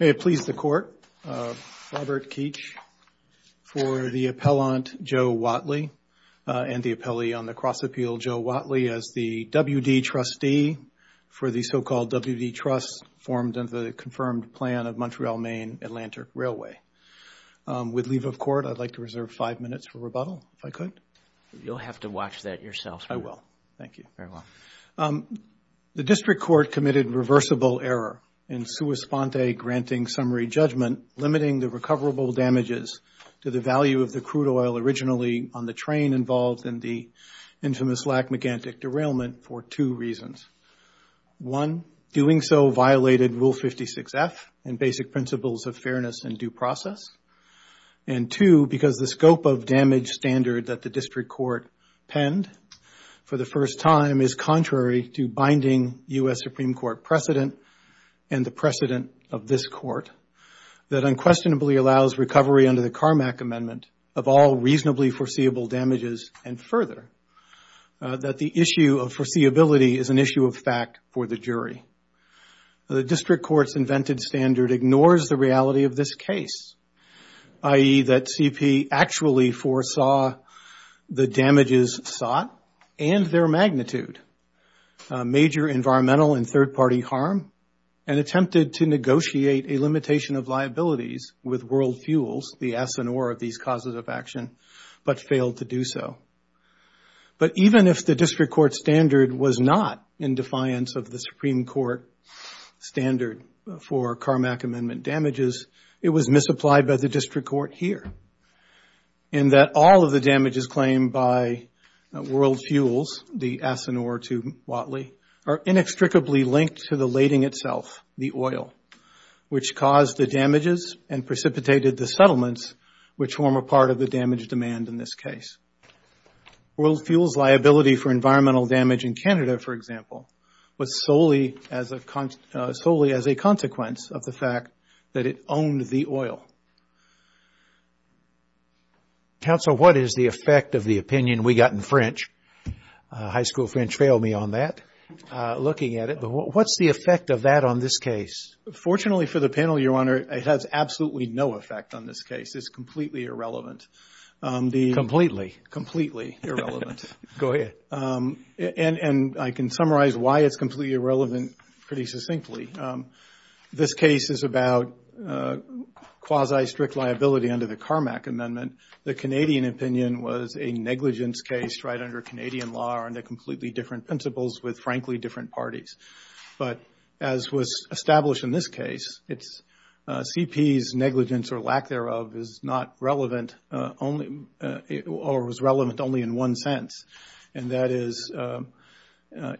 May it please the Court, Robert Keech, for the appellant Joe Whatley and the appellee on the cross-appeal, Joe Whatley, as the WD trustee for the so-called WD Trust formed under the confirmed plan of Montreal-Maine Atlantic Railway. With leave of court, I'd like to reserve five minutes for rebuttal, if I could. You'll have to watch that yourself. I will. Thank you. Very well. The district court committed reversible error in sua sponte granting summary judgment, limiting the recoverable damages to the value of the crude oil originally on the train involved in the infamous Lac-Megantic derailment for two reasons. One, doing so violated Rule 56-F and basic principles of fairness and due process. And two, because the scope of damage standard that the district court penned for the first time is contrary to binding U.S. Supreme Court precedent and the precedent of this Court that unquestionably allows recovery under the Carmack Amendment of all reasonably foreseeable damages. And further, that the issue of foreseeability is an issue of fact for the jury. The district court's invented standard ignores the reality of this case, i.e., that CP actually foresaw the damages sought and their magnitude, major environmental and third-party harm, and attempted to negotiate a limitation of liabilities with world fuels, the asinore of these causes of action, but failed to do so. But even if the district court standard was not in defiance of the Supreme Court standard for Carmack Amendment damages, it was misapplied by the district court here, in that all of the damages claimed by world fuels, the asinore to Watley, are inextricably linked to the which form a part of the damage demand in this case. World fuels' liability for environmental damage in Canada, for example, was solely as a consequence of the fact that it owned the oil. Counsel, what is the effect of the opinion we got in French? High school French failed me on that, looking at it, but what's the effect of that on this case? Fortunately for the panel, Your Honor, it has absolutely no effect on this case. It's completely irrelevant. Completely? Completely irrelevant. Go ahead. And I can summarize why it's completely irrelevant pretty succinctly. This case is about quasi-strict liability under the Carmack Amendment. The Canadian opinion was a negligence case right under Canadian law under completely different principles with, frankly, different parties. But as was established in this case, CP's negligence or lack thereof is not relevant only, or was relevant only in one sense, and that is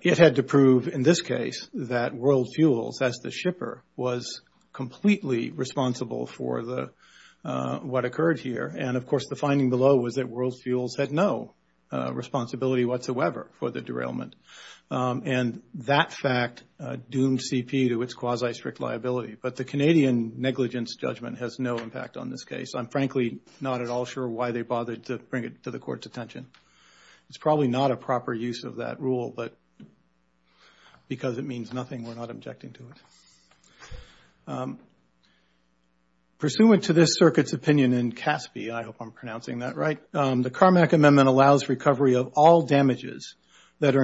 it had to prove in this case that world fuels, as the shipper, was completely responsible for what occurred here. And of course, the finding below was that world fuels had no responsibility whatsoever for the derailment. And that fact doomed CP to its quasi-strict liability. But the Canadian negligence judgment has no impact on this case. I'm frankly not at all sure why they bothered to bring it to the Court's attention. It's probably not a proper use of that rule, but because it means nothing, we're not objecting to it. Pursuant to this circuit's opinion in Caspi, I hope I'm pronouncing that right, the Carmack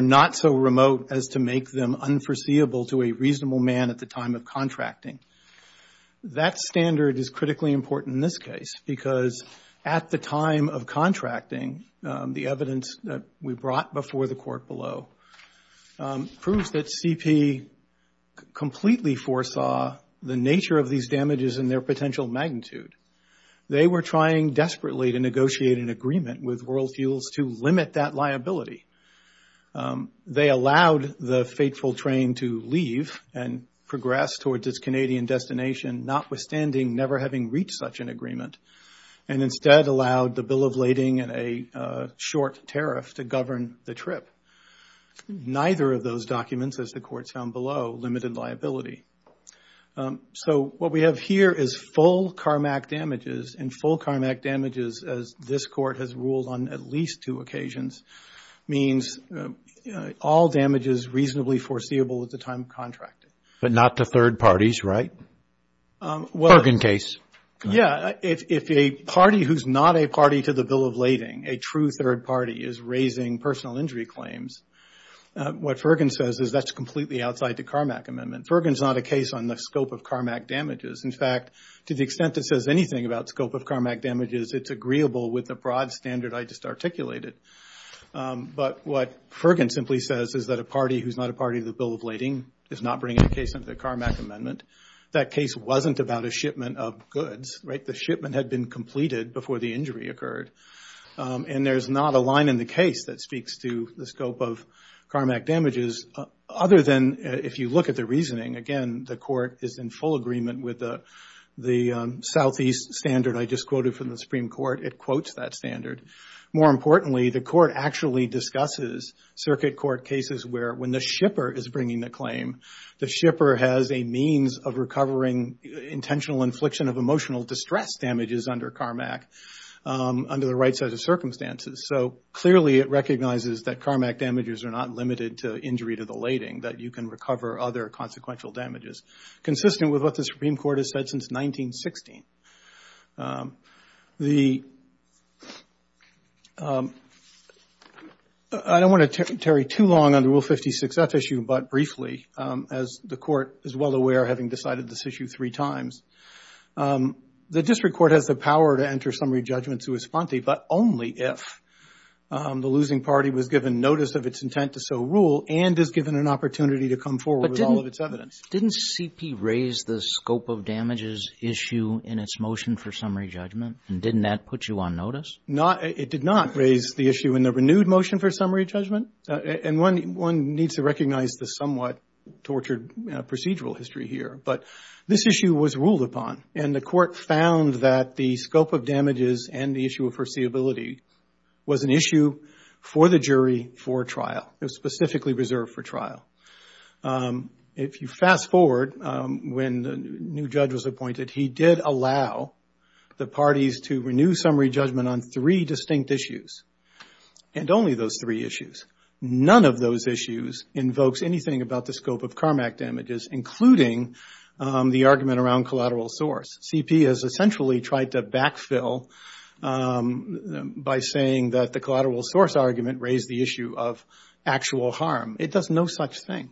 not so remote as to make them unforeseeable to a reasonable man at the time of contracting. That standard is critically important in this case, because at the time of contracting, the evidence that we brought before the Court below proves that CP completely foresaw the nature of these damages and their potential magnitude. They were trying desperately to negotiate an agreement with world fuels to limit that They allowed the fateful train to leave and progress towards its Canadian destination, notwithstanding never having reached such an agreement, and instead allowed the bill of lading and a short tariff to govern the trip. Neither of those documents, as the Court found below, limited liability. So, what we have here is full Carmack damages, and full Carmack damages, as this Court has ruled on at least two occasions, means all damages reasonably foreseeable at the time of contracting. But not to third parties, right? Fergin case. Yeah. If a party who's not a party to the bill of lading, a true third party, is raising personal injury claims, what Fergin says is that's completely outside the Carmack Amendment. Fergin's not a case on the scope of Carmack damages. In fact, to the extent it says anything about the scope of Carmack damages, it's agreeable with the broad standard I just articulated. But what Fergin simply says is that a party who's not a party to the bill of lading is not bringing a case under the Carmack Amendment. That case wasn't about a shipment of goods, right? The shipment had been completed before the injury occurred. And there's not a line in the case that speaks to the scope of Carmack damages, other than if you look at the reasoning, again, the court is in full agreement with the Southeast standard I just quoted from the Supreme Court. It quotes that standard. More importantly, the court actually discusses circuit court cases where when the shipper is bringing the claim, the shipper has a means of recovering intentional infliction of emotional distress damages under Carmack under the right set of circumstances. So clearly, it recognizes that Carmack damages are not limited to injury to the lading, that you can recover other consequential damages, consistent with what the Supreme Court has said since 1916. The – I don't want to tarry too long on the Rule 56-F issue, but briefly, as the court is well aware, having decided this issue three times, the district court has the power to enter summary judgment to esponte, but only if the losing party was given notice of its intent to so rule and is given an opportunity to come forward with all of its evidence. Didn't CP raise the scope of damages issue in its motion for summary judgment? Didn't that put you on notice? It did not raise the issue in the renewed motion for summary judgment, and one needs to recognize the somewhat tortured procedural history here, but this issue was ruled upon and the court found that the scope of damages and the issue of foreseeability was an issue for the jury for trial, it was specifically reserved for trial. If you fast forward, when the new judge was appointed, he did allow the parties to renew summary judgment on three distinct issues, and only those three issues, none of those issues invokes anything about the scope of Carmack damages, including the argument around collateral source. CP has essentially tried to backfill by saying that the collateral source argument raised the issue of actual harm. It does no such thing,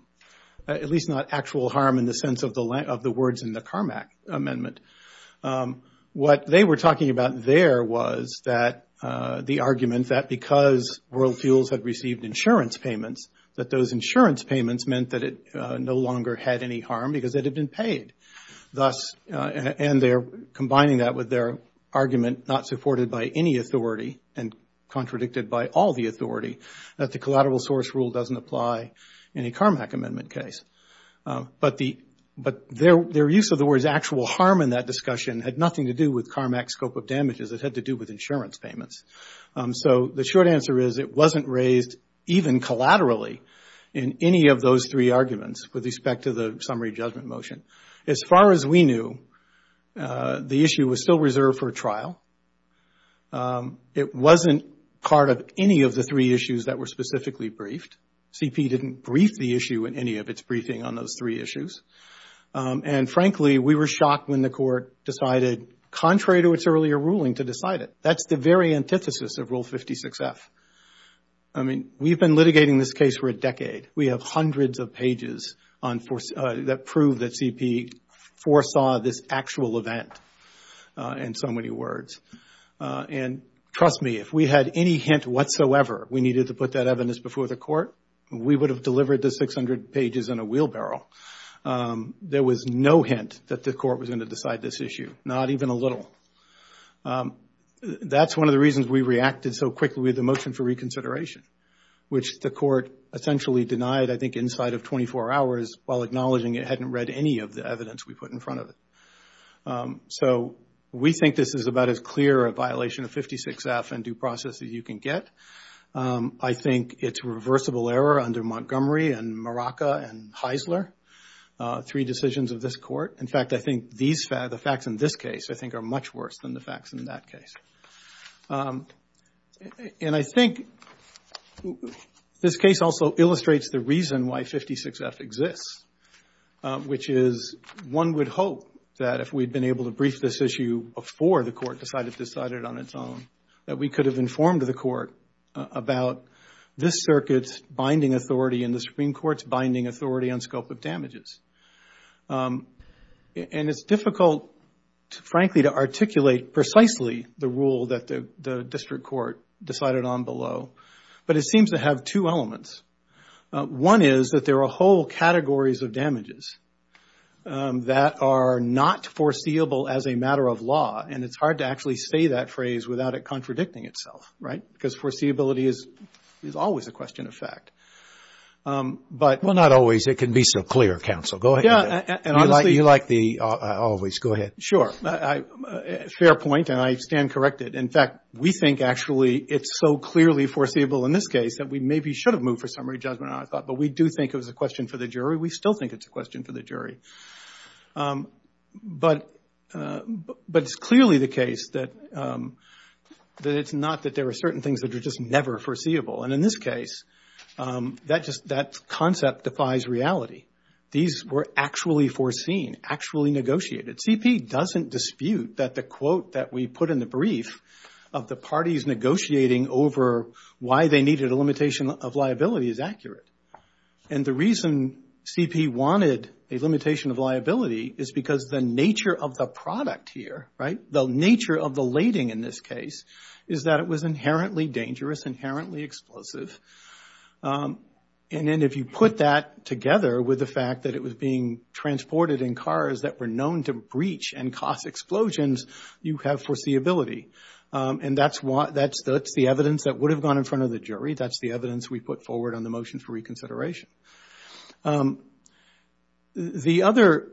at least not actual harm in the sense of the words in the Carmack amendment. What they were talking about there was that the argument that because World Fuels had received insurance payments, that those insurance payments meant that it no longer had any harm because it had been paid. And they're combining that with their argument not supported by any authority and contradicted by all the authority, that the collateral source rule doesn't apply in a Carmack amendment case. But their use of the words actual harm in that discussion had nothing to do with Carmack scope of damages, it had to do with insurance payments. So the short answer is it wasn't raised even collaterally in any of those three arguments with respect to the summary judgment motion. As far as we knew, the issue was still reserved for trial. It wasn't part of any of the three issues that were specifically briefed. CP didn't brief the issue in any of its briefing on those three issues. And frankly, we were shocked when the court decided, contrary to its earlier ruling, to decide it. That's the very antithesis of Rule 56F. I mean, we've been litigating this case for a decade. We have hundreds of pages that prove that CP foresaw this actual event in so many words. And trust me, if we had any hint whatsoever we needed to put that evidence before the court, we would have delivered the 600 pages in a wheelbarrow. There was no hint that the court was going to decide this issue, not even a little. That's one of the reasons we reacted so quickly with the motion for reconsideration, which the court essentially denied, I think, inside of 24 hours while acknowledging it hadn't read any of the evidence we put in front of it. So we think this is about as clear a violation of 56F and due process as you can get. I think it's a reversible error under Montgomery and Maraca and Heisler, three decisions of this court. In fact, I think the facts in this case, I think, are much worse than the facts in that case. And I think this case also illustrates the reason why 56F exists, which is one would hope that if we'd been able to brief this issue before the court decided to decide it on its own, that we could have informed the court about this circuit's binding authority and the Supreme Court's binding authority on scope of damages. And it's difficult, frankly, to articulate precisely the rule that the district court decided on below. But it seems to have two elements. One is that there are whole categories of damages that are not foreseeable as a matter of law. And it's hard to actually say that phrase without it contradicting itself, right? Because foreseeability is always a question of fact. But... Well, not always. It can be so clear, counsel. Go ahead. And honestly... You like the always. Go ahead. Sure. Fair point, and I stand corrected. In fact, we think actually it's so clearly foreseeable in this case that we maybe should have moved for summary judgment on it, but we do think it was a question for the jury. We still think it's a question for the jury. But it's clearly the case that it's not that there are certain things that are just never foreseeable. And in this case, that concept defies reality. These were actually foreseen, actually negotiated. CP doesn't dispute that the quote that we put in the brief of the parties negotiating over why they needed a limitation of liability is accurate. And the reason CP wanted a limitation of liability is because the nature of the product here, right, the nature of the lading in this case is that it was inherently dangerous, inherently explosive, and then if you put that together with the fact that it was being transported in cars that were known to breach and cause explosions, you have foreseeability. And that's the evidence that would have gone in front of the jury. That's the evidence we put forward on the motion for reconsideration. The other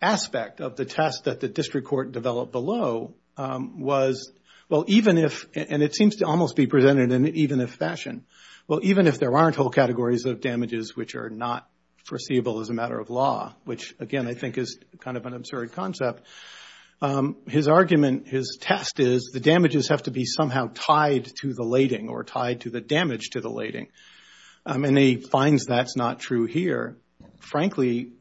aspect of the test that the district court developed below was, well, even if, and it seems to almost be presented in an even if fashion, well, even if there aren't whole categories of damages which are not foreseeable as a matter of law, which again I think is kind of an absurd concept, his argument, his test is the damages have to be somehow tied to the lading or tied to the damage to the lading. And he finds that's not true here. Frankly,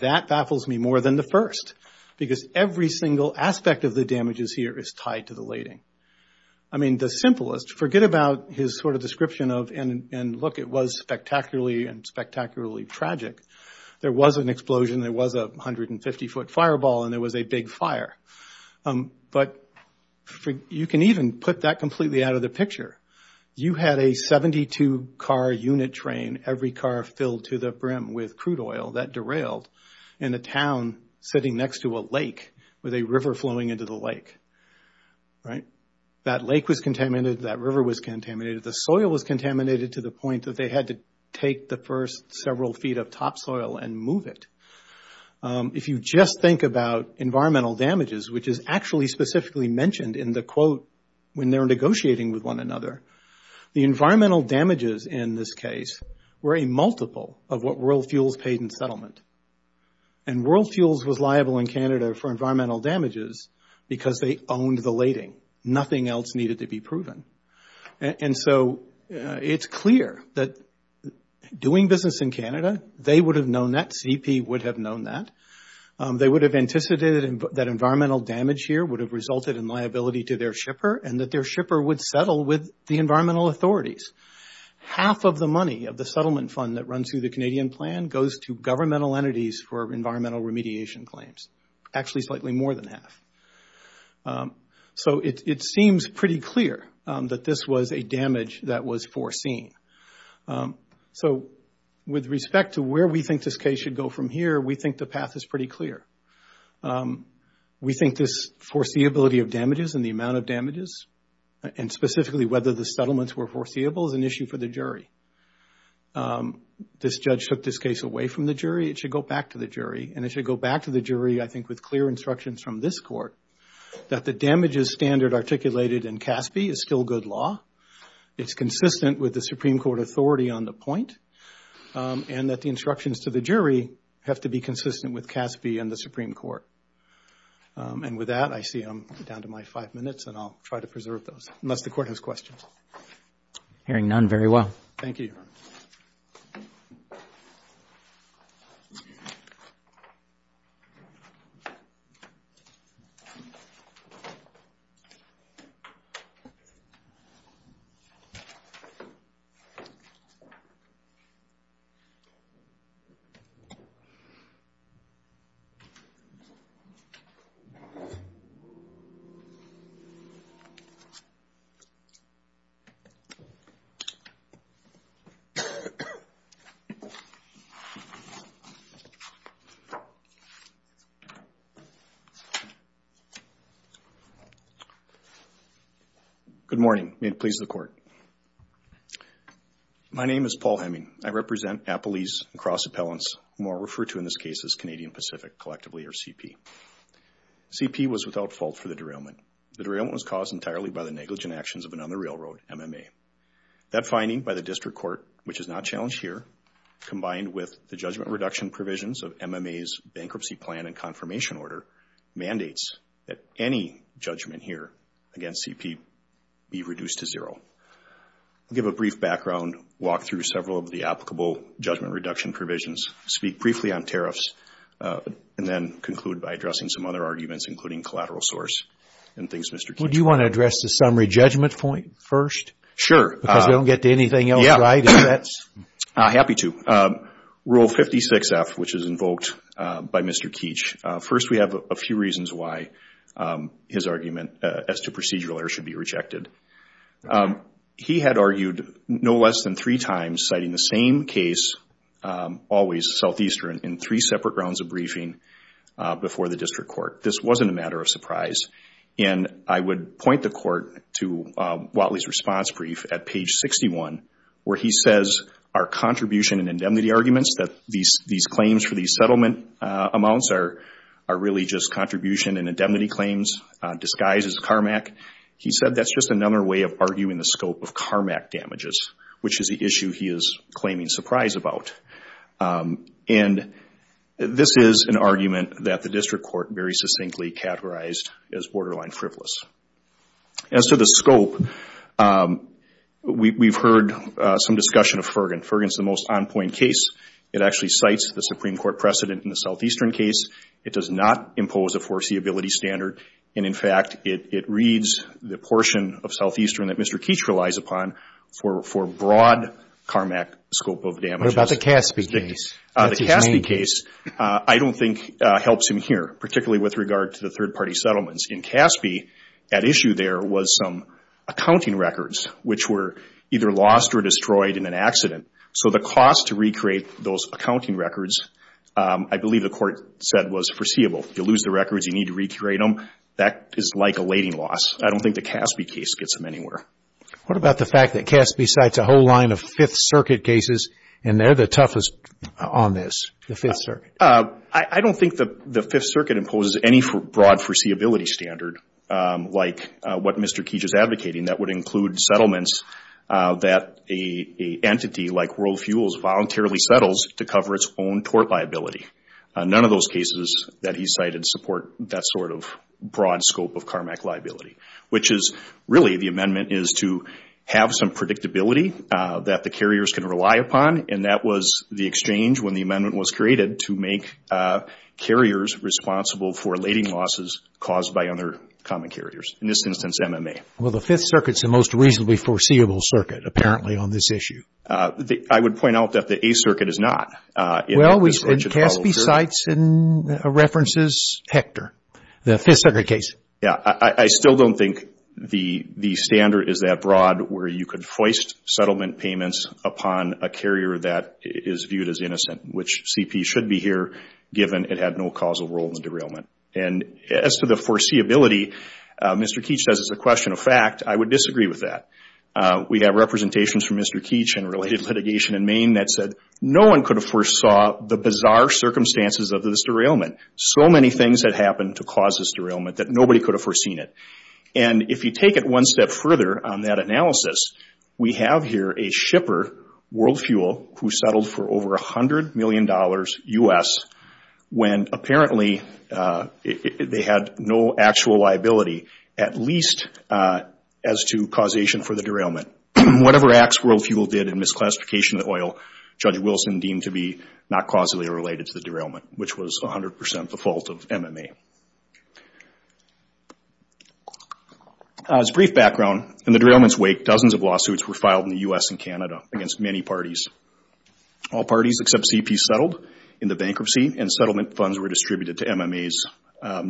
that baffles me more than the first because every single aspect of the damages here is tied to the lading. I mean, the simplest, forget about his sort of description of, and look, it was spectacularly and spectacularly tragic. There was an explosion, there was a 150-foot fireball, and there was a big fire. But you can even put that completely out of the picture. You had a 72-car unit train, every car filled to the brim with crude oil that derailed in a town sitting next to a lake with a river flowing into the lake. That lake was contaminated, that river was contaminated, the soil was contaminated to the point that they had to take the first several feet of topsoil and move it. If you just think about environmental damages, which is actually specifically mentioned in the quote when they're negotiating with one another, the environmental damages in this case were a multiple of what World Fuels paid in settlement. And World Fuels was liable in Canada for environmental damages because they owned the lading. Nothing else needed to be proven. And so it's clear that doing business in Canada, they would have known that, CEP would have known that. They would have anticipated that environmental damage here would have resulted in liability to their shipper, and that their shipper would settle with the environmental authorities. Half of the money of the settlement fund that runs through the Canadian plan goes to governmental entities for environmental remediation claims, actually slightly more than half. So it seems pretty clear that this was a damage that was foreseen. So with respect to where we think this case should go from here, we think the path is pretty clear. We think this foreseeability of damages and the amount of damages, and specifically whether the settlements were foreseeable, is an issue for the jury. This judge took this case away from the jury, it should go back to the jury, and it should go back to the jury, I think, with clear instructions from this court that the damages standard articulated in CASB is still good law, it's consistent with the Supreme Court authority on the point, and that the instructions to the jury have to be consistent with CASB and the Supreme Court. And with that, I see I'm down to my five minutes, and I'll try to preserve those, unless the court has questions. Hearing none, very well. Thank you, Your Honor. Thank you, Your Honor. Good morning, may it please the court. My name is Paul Hemming. I represent Appalese and Cross Appellants, who are referred to in this case as Canadian Pacific, collectively, or CP. CP was without fault for the derailment. The derailment was caused entirely by the negligent actions of an on-the-railroad MMA. That finding by the district court, which is not challenged here, combined with the judgment reduction provisions of MMA's bankruptcy plan and confirmation order, mandates that any judgment here against CP be reduced to zero. I'll give a brief background, walk through several of the applicable judgment reduction provisions, speak briefly on tariffs, and then conclude by addressing some other arguments, including collateral source, and things Mr. Chief. Well, do you want to address the summary judgment point first? Sure. Because we don't get to anything else, right? Yeah, happy to. Rule 56F, which is invoked by Mr. Keech, first we have a few reasons why his argument as to procedural error should be rejected. He had argued no less than three times, citing the same case, always southeastern, in three separate rounds of briefing before the district court. This wasn't a matter of surprise. I would point the court to Whatley's response brief at page 61, where he says, our contribution and indemnity arguments, that these claims for these settlement amounts are really just contribution and indemnity claims, disguised as CARMAC. He said that's just another way of arguing the scope of CARMAC damages, which is the issue he is claiming surprise about. This is an argument that the district court very succinctly categorized as borderline frivolous. As to the scope, we've heard some discussion of Ferguson. Ferguson is the most on-point case. It actually cites the Supreme Court precedent in the southeastern case. It does not impose a foreseeability standard, and in fact, it reads the portion of southeastern that Mr. Keech relies upon for broad CARMAC scope of damages. What about the Caspi case? What's his name? The Caspi case, I don't think, helps him here, particularly with regard to the third-party settlements. In Caspi, at issue there was some accounting records, which were either lost or destroyed in an accident, so the cost to recreate those accounting records, I believe the court said was foreseeable. You lose the records, you need to recreate them. That is like a lading loss. I don't think the Caspi case gets him anywhere. What about the fact that Caspi cites a whole line of Fifth Circuit cases, and they're the toughest on this, the Fifth Circuit? I don't think the Fifth Circuit imposes any broad foreseeability standard, like what Mr. Keech is advocating, that would include settlements that an entity like World Fuels voluntarily settles to cover its own tort liability. None of those cases that he cited support that sort of broad scope of CARMAC liability, which is really the amendment is to have some predictability that the carriers can rely upon, and that was the exchange when the amendment was created to make carriers responsible for lading losses caused by other common carriers, in this instance, MMA. Well, the Fifth Circuit is the most reasonably foreseeable circuit, apparently, on this issue. I would point out that the A Circuit is not. Well, we said Caspi cites and references Hector, the Fifth Circuit case. Yeah. I still don't think the standard is that broad where you could hoist settlement payments upon a carrier that is viewed as innocent, which CP should be here, given it had no causal role in the derailment. As to the foreseeability, Mr. Keech says it's a question of fact. I would disagree with that. We have representations from Mr. Keech in related litigation in Maine that said no one could have foresaw the bizarre circumstances of this derailment. So many things had happened to cause this derailment that nobody could have foreseen it. If you take it one step further on that analysis, we have here a shipper, World Fuel, who settled for over $100 million U.S. when apparently they had no actual liability, at least as to causation for the derailment. Whatever acts World Fuel did in misclassification of the oil, Judge Wilson deemed to be not causally related to the derailment, which was 100% the fault of MMA. As a brief background, in the derailment's wake, dozens of lawsuits were filed in the U.S. and Canada against many parties. All parties except CP settled in the bankruptcy and settlement funds were distributed to MMA's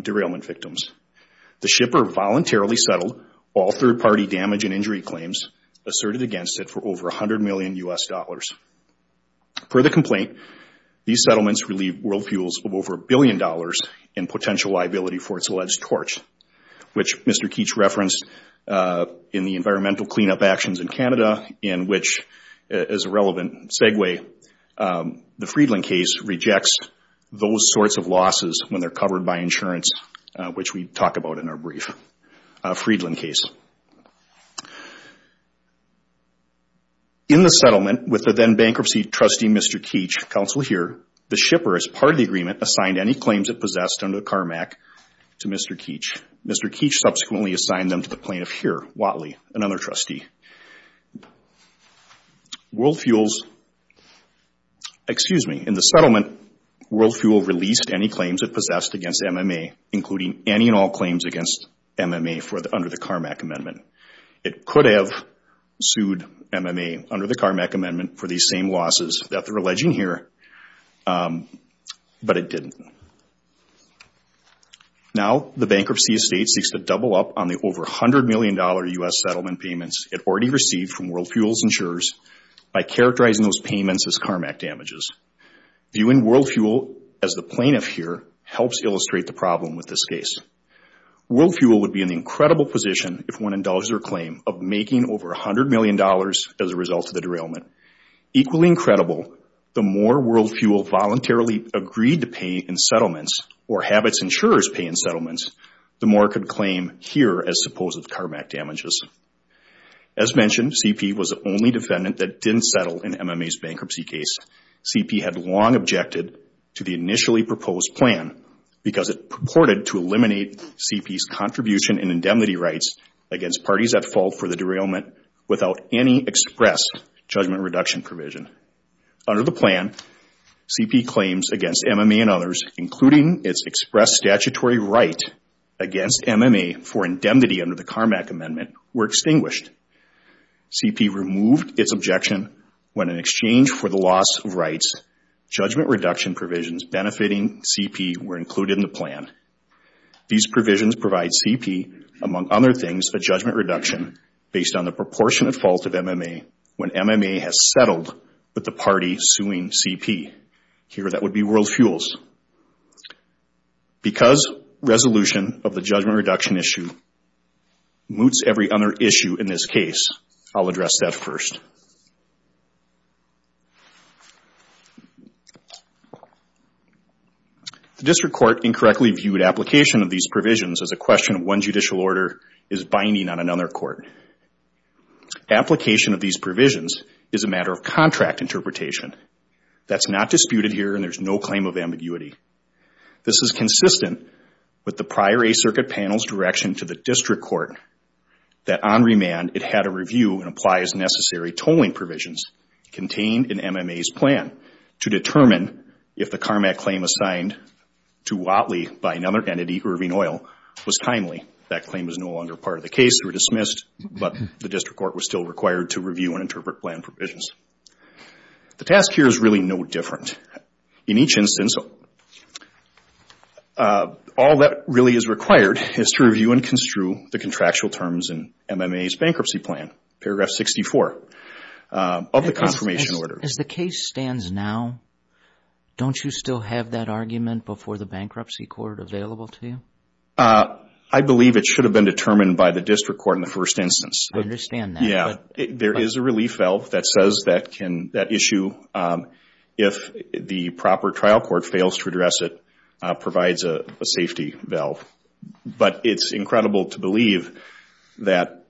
derailment victims. The shipper voluntarily settled all third-party damage and injury claims asserted against it for over $100 million U.S. Per the complaint, these settlements relieved World Fuel of over $1 billion in potential liability for its alleged torch, which Mr. Keech referenced in the environmental cleanup actions in Canada, in which, as a relevant segue, the Friedland case rejects those sorts of losses when they're covered by insurance, which we talk about in our brief Friedland case. In the settlement with the then-bankruptcy trustee Mr. Keech, counsel here, the shipper as part of the agreement assigned any claims it possessed under the CARMAC to Mr. Keech. Mr. Keech subsequently assigned them to the plaintiff here, Wattley, another trustee. In the settlement, World Fuel released any claims it possessed against MMA, including any and all claims against MMA under the CARMAC amendment. It could have sued MMA under the CARMAC amendment for these same losses that they're alleging here, but it didn't. Now, the bankruptcy estate seeks to double up on the over $100 million U.S. settlement payments it already received from World Fuel's insurers by characterizing those payments as CARMAC damages. Viewing World Fuel as the plaintiff here helps illustrate the problem with this case. World Fuel would be in the incredible position if one indulged their claim of making over $100 million as a result of the derailment. Equally incredible, the more World Fuel voluntarily agreed to pay in settlements or have its insurers pay in settlements, the more it could claim here as supposed CARMAC damages. As mentioned, CP was the only defendant that didn't settle in MMA's bankruptcy case. CP had long objected to the initially proposed plan because it purported to eliminate CP's contribution and indemnity rights against parties at fault for the derailment without any express judgment reduction provision. Under the plan, CP claims against MMA and others, including its express statutory right against MMA for indemnity under the CARMAC amendment, were extinguished. CP removed its objection when, in exchange for the loss of rights, judgment reduction provisions benefiting CP were included in the plan. These provisions provide CP, among other things, a judgment reduction based on the proportionate fault of MMA when MMA has settled with the party suing CP. Here that would be World Fuel's. Because resolution of the judgment reduction issue moots every other issue in this case, I'll address that first. The district court incorrectly viewed application of these provisions as a question of one judicial order is binding on another court. Application of these provisions is a matter of contract interpretation. That's not disputed here and there's no claim of ambiguity. This is consistent with the prior A Circuit panel's direction to the district court that on remand it had to review and apply as necessary tolling provisions contained in MMA's plan to determine if the CARMAC claim assigned to Watley by another entity, Irving Oil, was timely. That claim is no longer part of the case, they were dismissed, but the district court was still required to review and interpret plan provisions. The task here is really no different. In each instance, all that really is required is to review and construe the contractual terms in MMA's bankruptcy plan, paragraph 64 of the confirmation order. As the case stands now, don't you still have that argument before the bankruptcy court available to you? I believe it should have been determined by the district court in the first instance. I understand that. Yeah. There is a relief valve that says that issue, if the proper trial court fails to address it, provides a safety valve. But it's incredible to believe that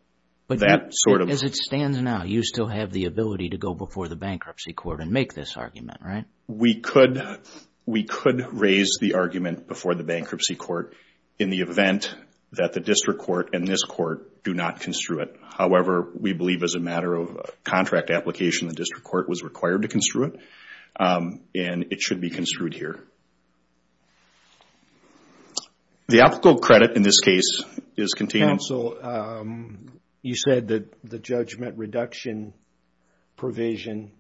that sort of... As it stands now, you still have the ability to go before the bankruptcy court and make this argument, right? We could raise the argument before the bankruptcy court in the event that the district court and this court do not construe it. However, we believe as a matter of contract application, the district court was required to construe it and it should be construed here. The applicable credit in this case is contained... You said that the judgment reduction provision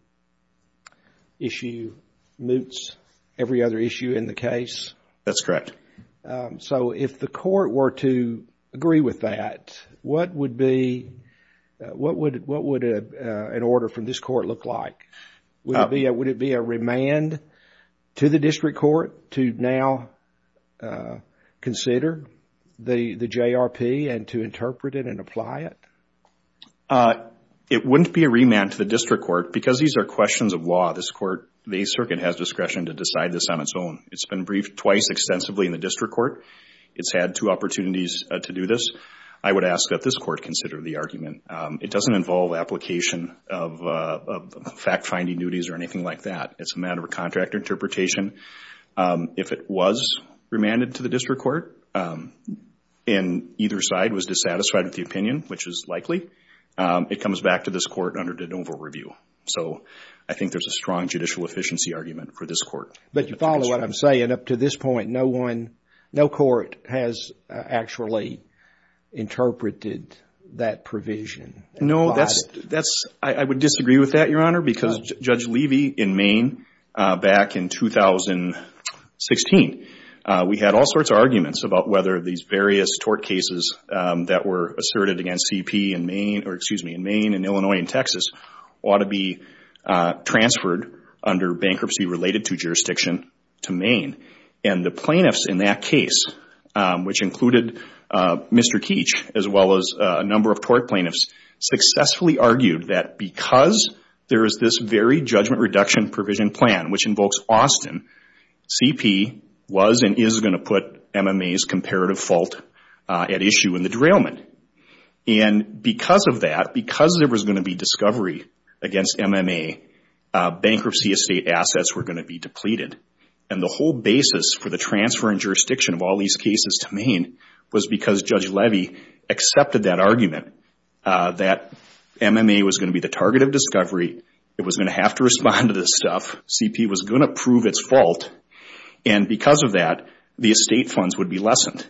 issue moots every other issue in the case? That's correct. So, if the court were to agree with that, what would an order from this court look like? Would it be a remand to the district court to now consider the JRP and to interpret it and apply it? It wouldn't be a remand to the district court because these are questions of law. This court, the circuit has discretion to decide this on its own. It's been briefed twice extensively in the district court. It's had two opportunities to do this. I would ask that this court consider the argument. It doesn't involve application of fact-finding duties or anything like that. It's a matter of contract interpretation. If it was remanded to the district court and either side was dissatisfied with the opinion, which is likely, it comes back to this court under de novo review. So, I think there's a strong judicial efficiency argument for this court. But you follow what I'm saying? Up to this point, no one, no court has actually interpreted that provision. No, I would disagree with that, Your Honor, because Judge Levy in Maine back in 2016, we had all sorts of arguments about whether these various tort cases that were asserted against CP in Maine, or excuse me, in Maine and Illinois and Texas ought to be transferred under bankruptcy related to jurisdiction to Maine. And the plaintiffs in that case, which included Mr. Keech as well as a number of tort plaintiffs, successfully argued that because there is this very judgment reduction provision plan, which invokes Austin, CP was and is going to put MMA's comparative fault at issue in the derailment. And because of that, because there was going to be discovery against MMA, bankruptcy estate assets were going to be depleted. And the whole basis for the transfer in jurisdiction of all these cases to Maine was because Judge Levy accepted that argument that MMA was going to be the target of discovery. It was going to have to respond to this stuff. CP was going to prove its fault. And because of that, the estate funds would be lessened.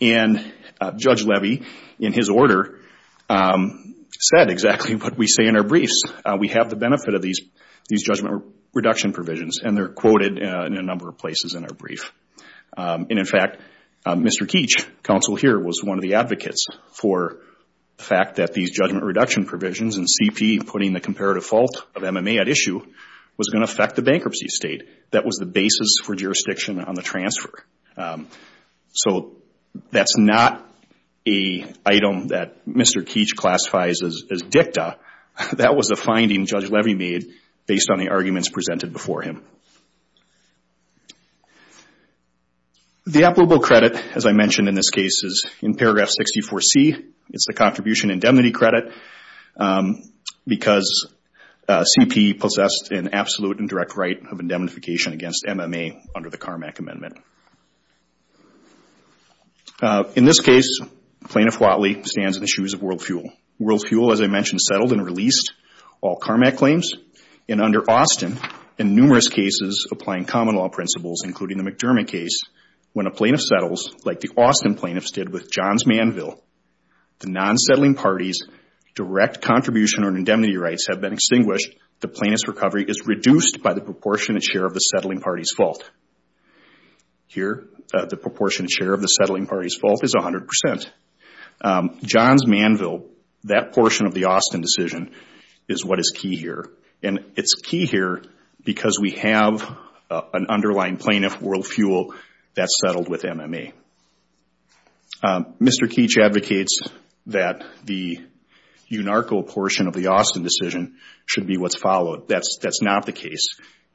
And Judge Levy, in his order, said exactly what we say in our briefs. We have the benefit of these judgment reduction provisions, and they're quoted in a number of places in our brief. And in fact, Mr. Keech, counsel here, was one of the advocates for the fact that these judgment reduction provisions and CP putting the comparative fault of MMA at issue was going to affect the bankruptcy estate. That was the basis for jurisdiction on the transfer. So that's not a item that Mr. Keech classifies as dicta. That was a finding Judge Levy made based on the arguments presented before him. The applicable credit, as I mentioned in this case, is in paragraph 64C. It's the contribution indemnity credit because CP possessed an absolute and direct right of indemnification against MMA under the Carmack Amendment. In this case, Plaintiff Whatley stands in the shoes of WorldFuel. WorldFuel, as I mentioned, settled and released all Carmack claims. And under Austin, in numerous cases applying common law principles, including the McDermott case, when a plaintiff settles, like the Austin plaintiffs did with John's Manville, the non-settling party's direct contribution or indemnity rights have been extinguished. The plaintiff's recovery is reduced by the proportionate share of the settling party's fault. Here, the proportionate share of the settling party's fault is 100%. John's Manville, that portion of the Austin decision, is what is key here. And it's key here because we have an underlying plaintiff, WorldFuel, that settled with MMA. Mr. Keech advocates that the UNARCO portion of the Austin decision should be what's followed. That's not the case.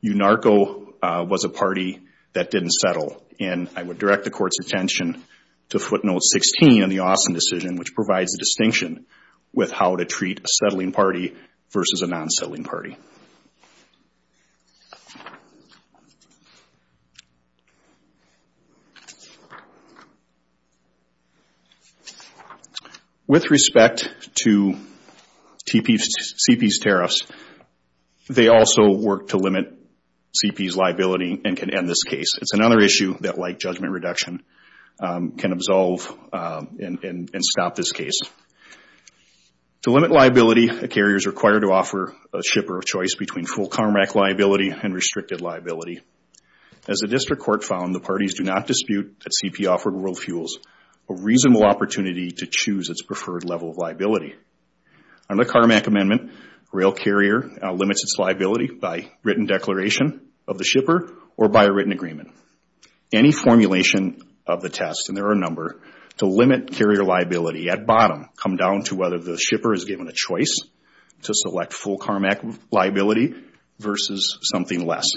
UNARCO was a party that didn't settle. And I would direct the court's attention to footnote 16 in the Austin decision, which provides a distinction with how to treat a settling party versus a non-settling party. With respect to CP's tariffs, they also work to limit CP's liability and can end this case. It's another issue that, like judgment reduction, can absolve and stop this case. To limit liability, a carrier is required to offer a shipper a choice between full CARMAC liability and restricted liability. As the district court found, the parties do not dispute that CP offered WorldFuel a reasonable opportunity to choose its preferred level of liability. Under the CARMAC amendment, a rail carrier limits its liability by written declaration of the shipper or by a written agreement. Any formulation of the test, and there are a number, to limit carrier liability at bottom come down to whether the shipper is given a choice to select full CARMAC liability versus something less.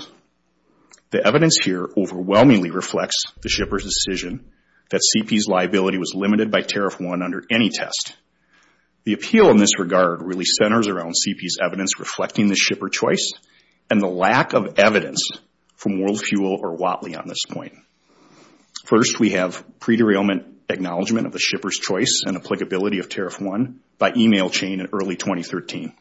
The evidence here overwhelmingly reflects the shipper's decision that CP's liability was limited by Tariff 1 under any test. The appeal in this regard really centers around CP's evidence reflecting the shipper choice and the lack of evidence from WorldFuel or Whatley on this point. First, we have pre-derailment acknowledgement of the shipper's choice and applicability of Tariff 1 by email chain in early 2013.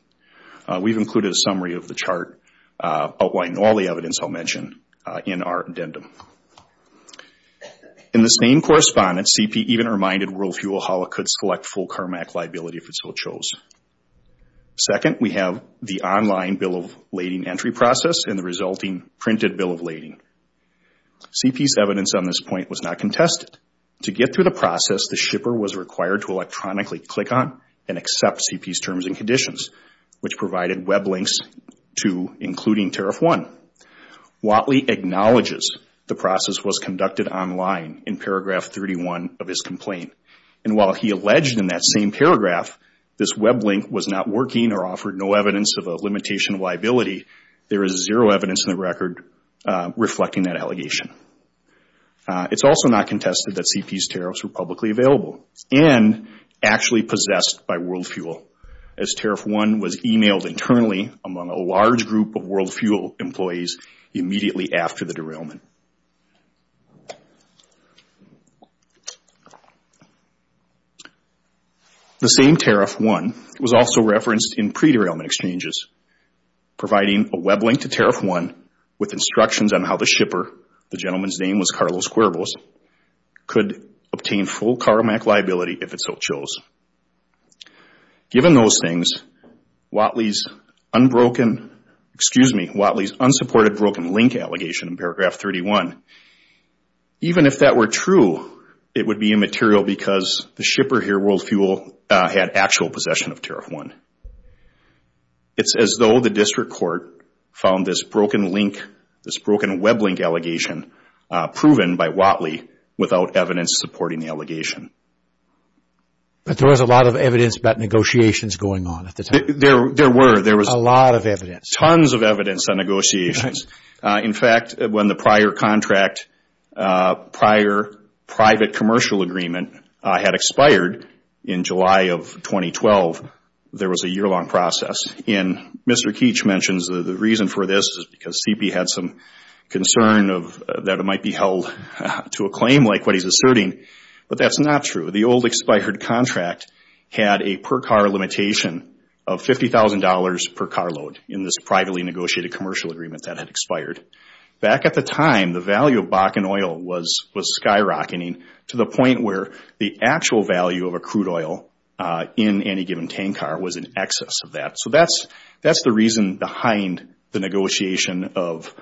We've included a summary of the chart outlining all the evidence I'll mention in our addendum. In this main correspondence, CP even reminded WorldFuel how it could select full CARMAC liability if it so chose. Second, we have the online bill of lading entry process and the resulting printed bill of lading. CP's evidence on this point was not contested. To get through the process, the shipper was required to electronically click on and accept CP's terms and conditions, which provided web links to including Tariff 1. Whatley acknowledges the process was conducted online in paragraph 31 of his complaint. And while he alleged in that same paragraph this web link was not working or offered no evidence of a limitation liability, there is zero evidence in the record reflecting that allegation. It's also not contested that CP's tariffs were publicly available and actually possessed by WorldFuel, as Tariff 1 was emailed internally among a large group of WorldFuel employees immediately after the derailment. The same Tariff 1 was also referenced in pre-derailment exchanges, providing a web link to Tariff 1 with instructions on how the shipper, the gentleman's name was Carlos Cuervos, could obtain full CARMAC liability if it so chose. Given those things, Whatley's unsupported broken link allegation in paragraph 31, even if that were true, it would be immaterial because the shipper here, WorldFuel, had actual possession of Tariff 1. It's as though the district court found this broken link, this broken web link allegation, proven by Whatley without evidence supporting the allegation. But there was a lot of evidence about negotiations going on at the time. There were. There was a lot of evidence. Tons of evidence on negotiations. In fact, when the prior contract, prior private commercial agreement had expired in July of 2012, there was a year-long process. And Mr. Keech mentions the reason for this is because CP had some concern that it might be held to a claim like what he's asserting. But that's not true. The old expired contract had a per-car limitation of $50,000 per carload in this privately negotiated commercial agreement that had expired. Back at the time, the value of Bakken Oil was skyrocketing to the point where the actual value of a crude oil in any given tank car was in excess of that. So that's the reason behind the negotiation of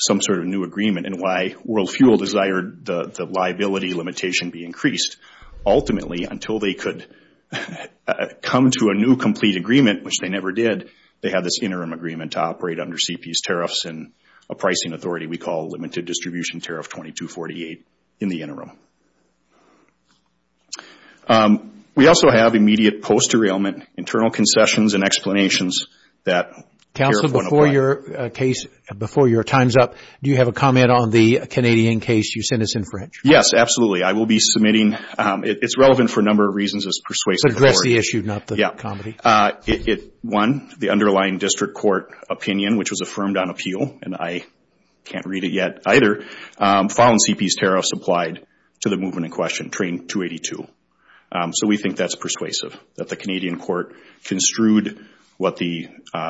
some sort of new agreement and why WorldFuel desired the liability limitation be increased. Ultimately, until they could come to a new complete agreement, which they never did, they had this interim agreement to operate under CP's tariffs and a pricing authority we call Limited Distribution Tariff 2248 in the interim. We also have immediate post-derailment internal concessions and explanations that. Counsel, before your case, before your time's up, do you have a comment on the Canadian case you sent us in French? Yes, absolutely. I will be submitting. It's relevant for a number of reasons. It's persuasive. Address the issue, not the comedy. One, the underlying district court opinion, which was affirmed on appeal, and I can't read it yet either, found CP's tariffs applied to the movement in question, train 282. So we think that's persuasive, that the Canadian court construed what the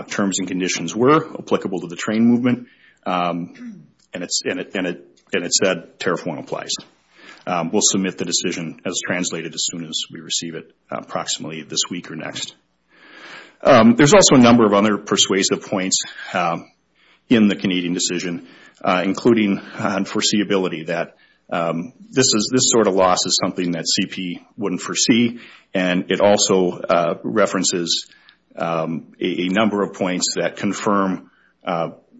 terms and conditions were applicable to the train movement, and it said tariff one applies. We'll submit the decision as translated as soon as we receive it approximately this week or next. There's also a number of other persuasive points in the Canadian decision, including on foreseeability, that this sort of loss is something that CP wouldn't foresee, and it also references a number of points that confirm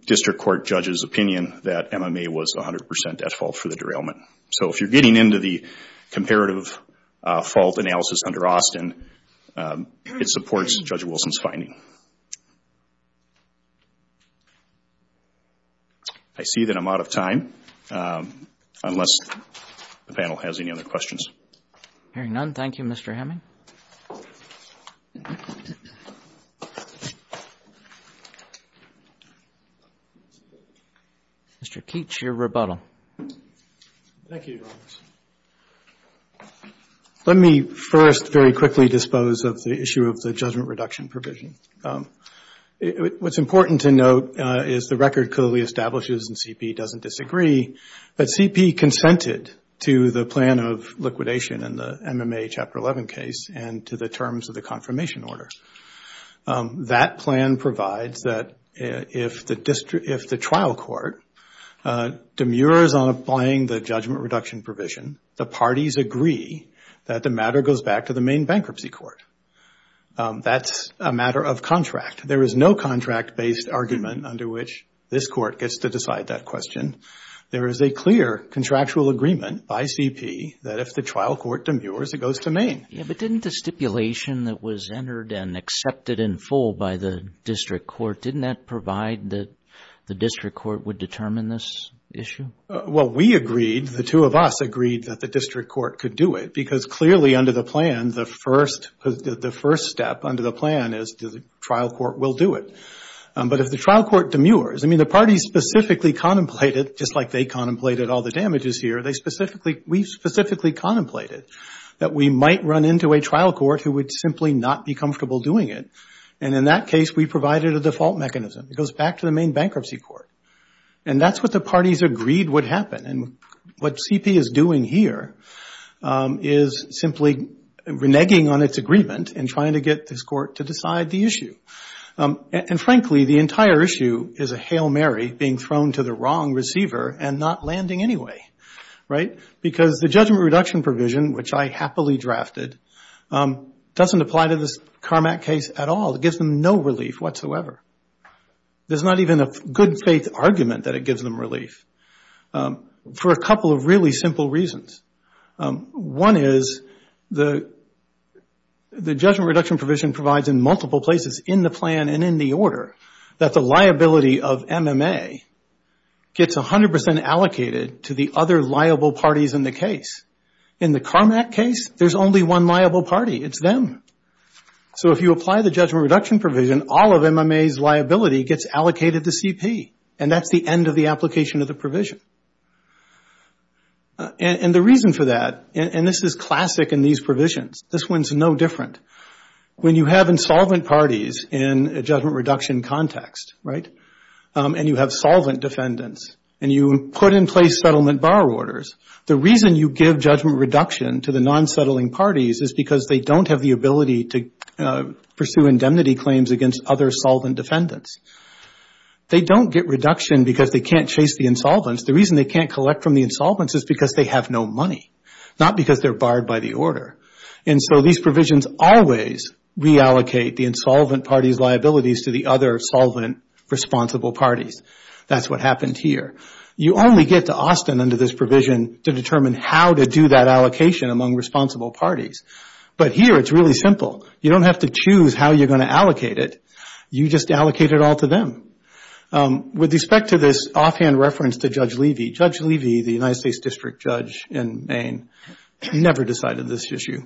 district court judges' opinion that MMA was 100 percent at fault for the derailment. So if you're getting into the comparative fault analysis under Austin, it supports Judge Wilson's finding. I see that I'm out of time, unless the panel has any other questions. Hearing none, thank you, Mr. Hamming. Mr. Keech, your rebuttal. Thank you, Your Honor. Let me first very quickly dispose of the issue of the judgment reduction provision. What's important to note is the record clearly establishes that CP doesn't disagree, but CP consented to the plan of liquidation in the MMA Chapter 11 case and to the terms of the confirmation order. That plan provides that if the trial court demurs on applying the judgment reduction provision, the parties agree that the matter goes back to the Maine Bankruptcy Court. That's a matter of contract. There is no contract-based argument under which this Court gets to decide that question. There is a clear contractual agreement by CP that if the trial court demurs, it goes to Maine. But didn't the stipulation that was entered and accepted in full by the district court, didn't that provide that the district court would determine this issue? Well, we agreed, the two of us agreed, that the district court could do it, because clearly under the plan, the first step under the plan is the trial court will do it. But if the trial court demurs, I mean, the parties specifically contemplated, just like they contemplated all the damages here, we specifically contemplated that we might run into a trial court who would simply not be comfortable doing it. And in that case, we provided a default mechanism. It goes back to the Maine Bankruptcy Court. And that's what the parties agreed would happen. And what CP is doing here is simply reneging on its agreement and trying to get this court to decide the issue. And frankly, the entire issue is a Hail Mary being thrown to the wrong receiver and not landing anyway, right? Because the judgment reduction provision, which I happily drafted, doesn't apply to this Carmack case at all. It gives them no relief whatsoever. There's not even a good faith argument that it gives them relief for a couple of really simple reasons. One is the judgment reduction provision provides in multiple places in the plan and in the order that the liability of MMA gets 100 percent allocated to the other liable parties in the case. In the Carmack case, there's only one liable party. It's them. So if you apply the judgment reduction provision, all of MMA's liability gets allocated to CP, and that's the end of the application of the provision. And the reason for that, and this is classic in these provisions. This one's no different. When you have insolvent parties in a judgment reduction context, right, and you have solvent defendants, and you put in place settlement bar orders, the reason you give judgment reduction to the non-settling parties is because they don't have the ability to pursue indemnity claims against other solvent defendants. They don't get reduction because they can't chase the insolvents. The reason they can't collect from the insolvents is because they have no money, not because they're barred by the order. And so these provisions always reallocate the insolvent party's liabilities to the other solvent responsible parties. That's what happened here. You only get to Austin under this provision to determine how to do that allocation among responsible parties. But here it's really simple. You don't have to choose how you're going to allocate it. You just allocate it all to them. With respect to this offhand reference to Judge Levy, Judge Levy, the United States District Judge in Maine, never decided this issue.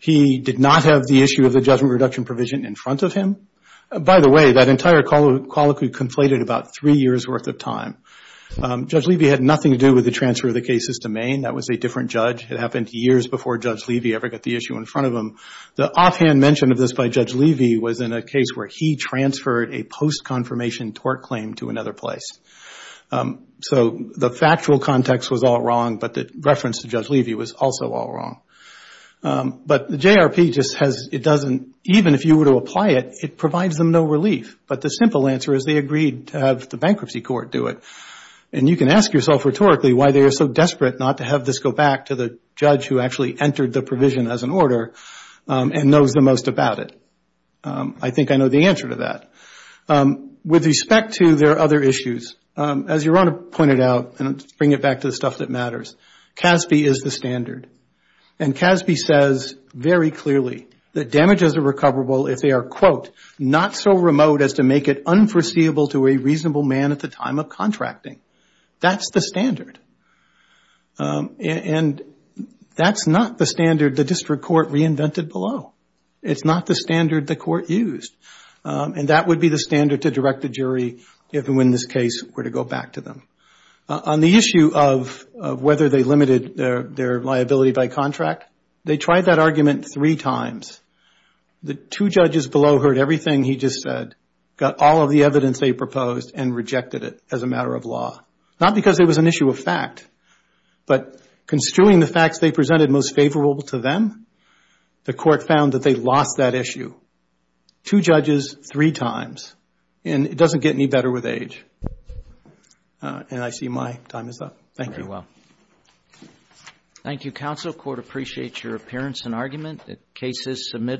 He did not have the issue of the judgment reduction provision in front of him. By the way, that entire colloquy conflated about three years' worth of time. Judge Levy had nothing to do with the transfer of the cases to Maine. That was a different judge. It happened years before Judge Levy ever got the issue in front of him. The offhand mention of this by Judge Levy was in a case where he transferred a post-confirmation tort claim to another place. So the factual context was all wrong, but the reference to Judge Levy was also all wrong. But the JRP just has, it doesn't, even if you were to apply it, it provides them no relief. But the simple answer is they agreed to have the bankruptcy court do it. And you can ask yourself rhetorically why they are so desperate not to have this go back to the judge who actually entered the provision as an order and knows the most about it. I think I know the answer to that. With respect to their other issues, as Your Honor pointed out, and to bring it back to the stuff that matters, CASB is the standard. And CASB says very clearly that damages are recoverable if they are, quote, not so remote as to make it unforeseeable to a reasonable man at the time of contracting. That's the standard. And that's not the standard the district court reinvented below. It's not the standard the court used. And that would be the standard to direct the jury even when this case were to go back to them. On the issue of whether they limited their liability by contract, they tried that argument three times. The two judges below heard everything he just said, got all of the evidence they proposed, and rejected it as a matter of law. Not because it was an issue of fact, but construing the facts they presented most favorable to them, the court found that they lost that issue. Two judges, three times. And it doesn't get any better with age. And I see my time is up. Thank you. Very well. Thank you, counsel. Court appreciates your appearance and argument. The case is submitted.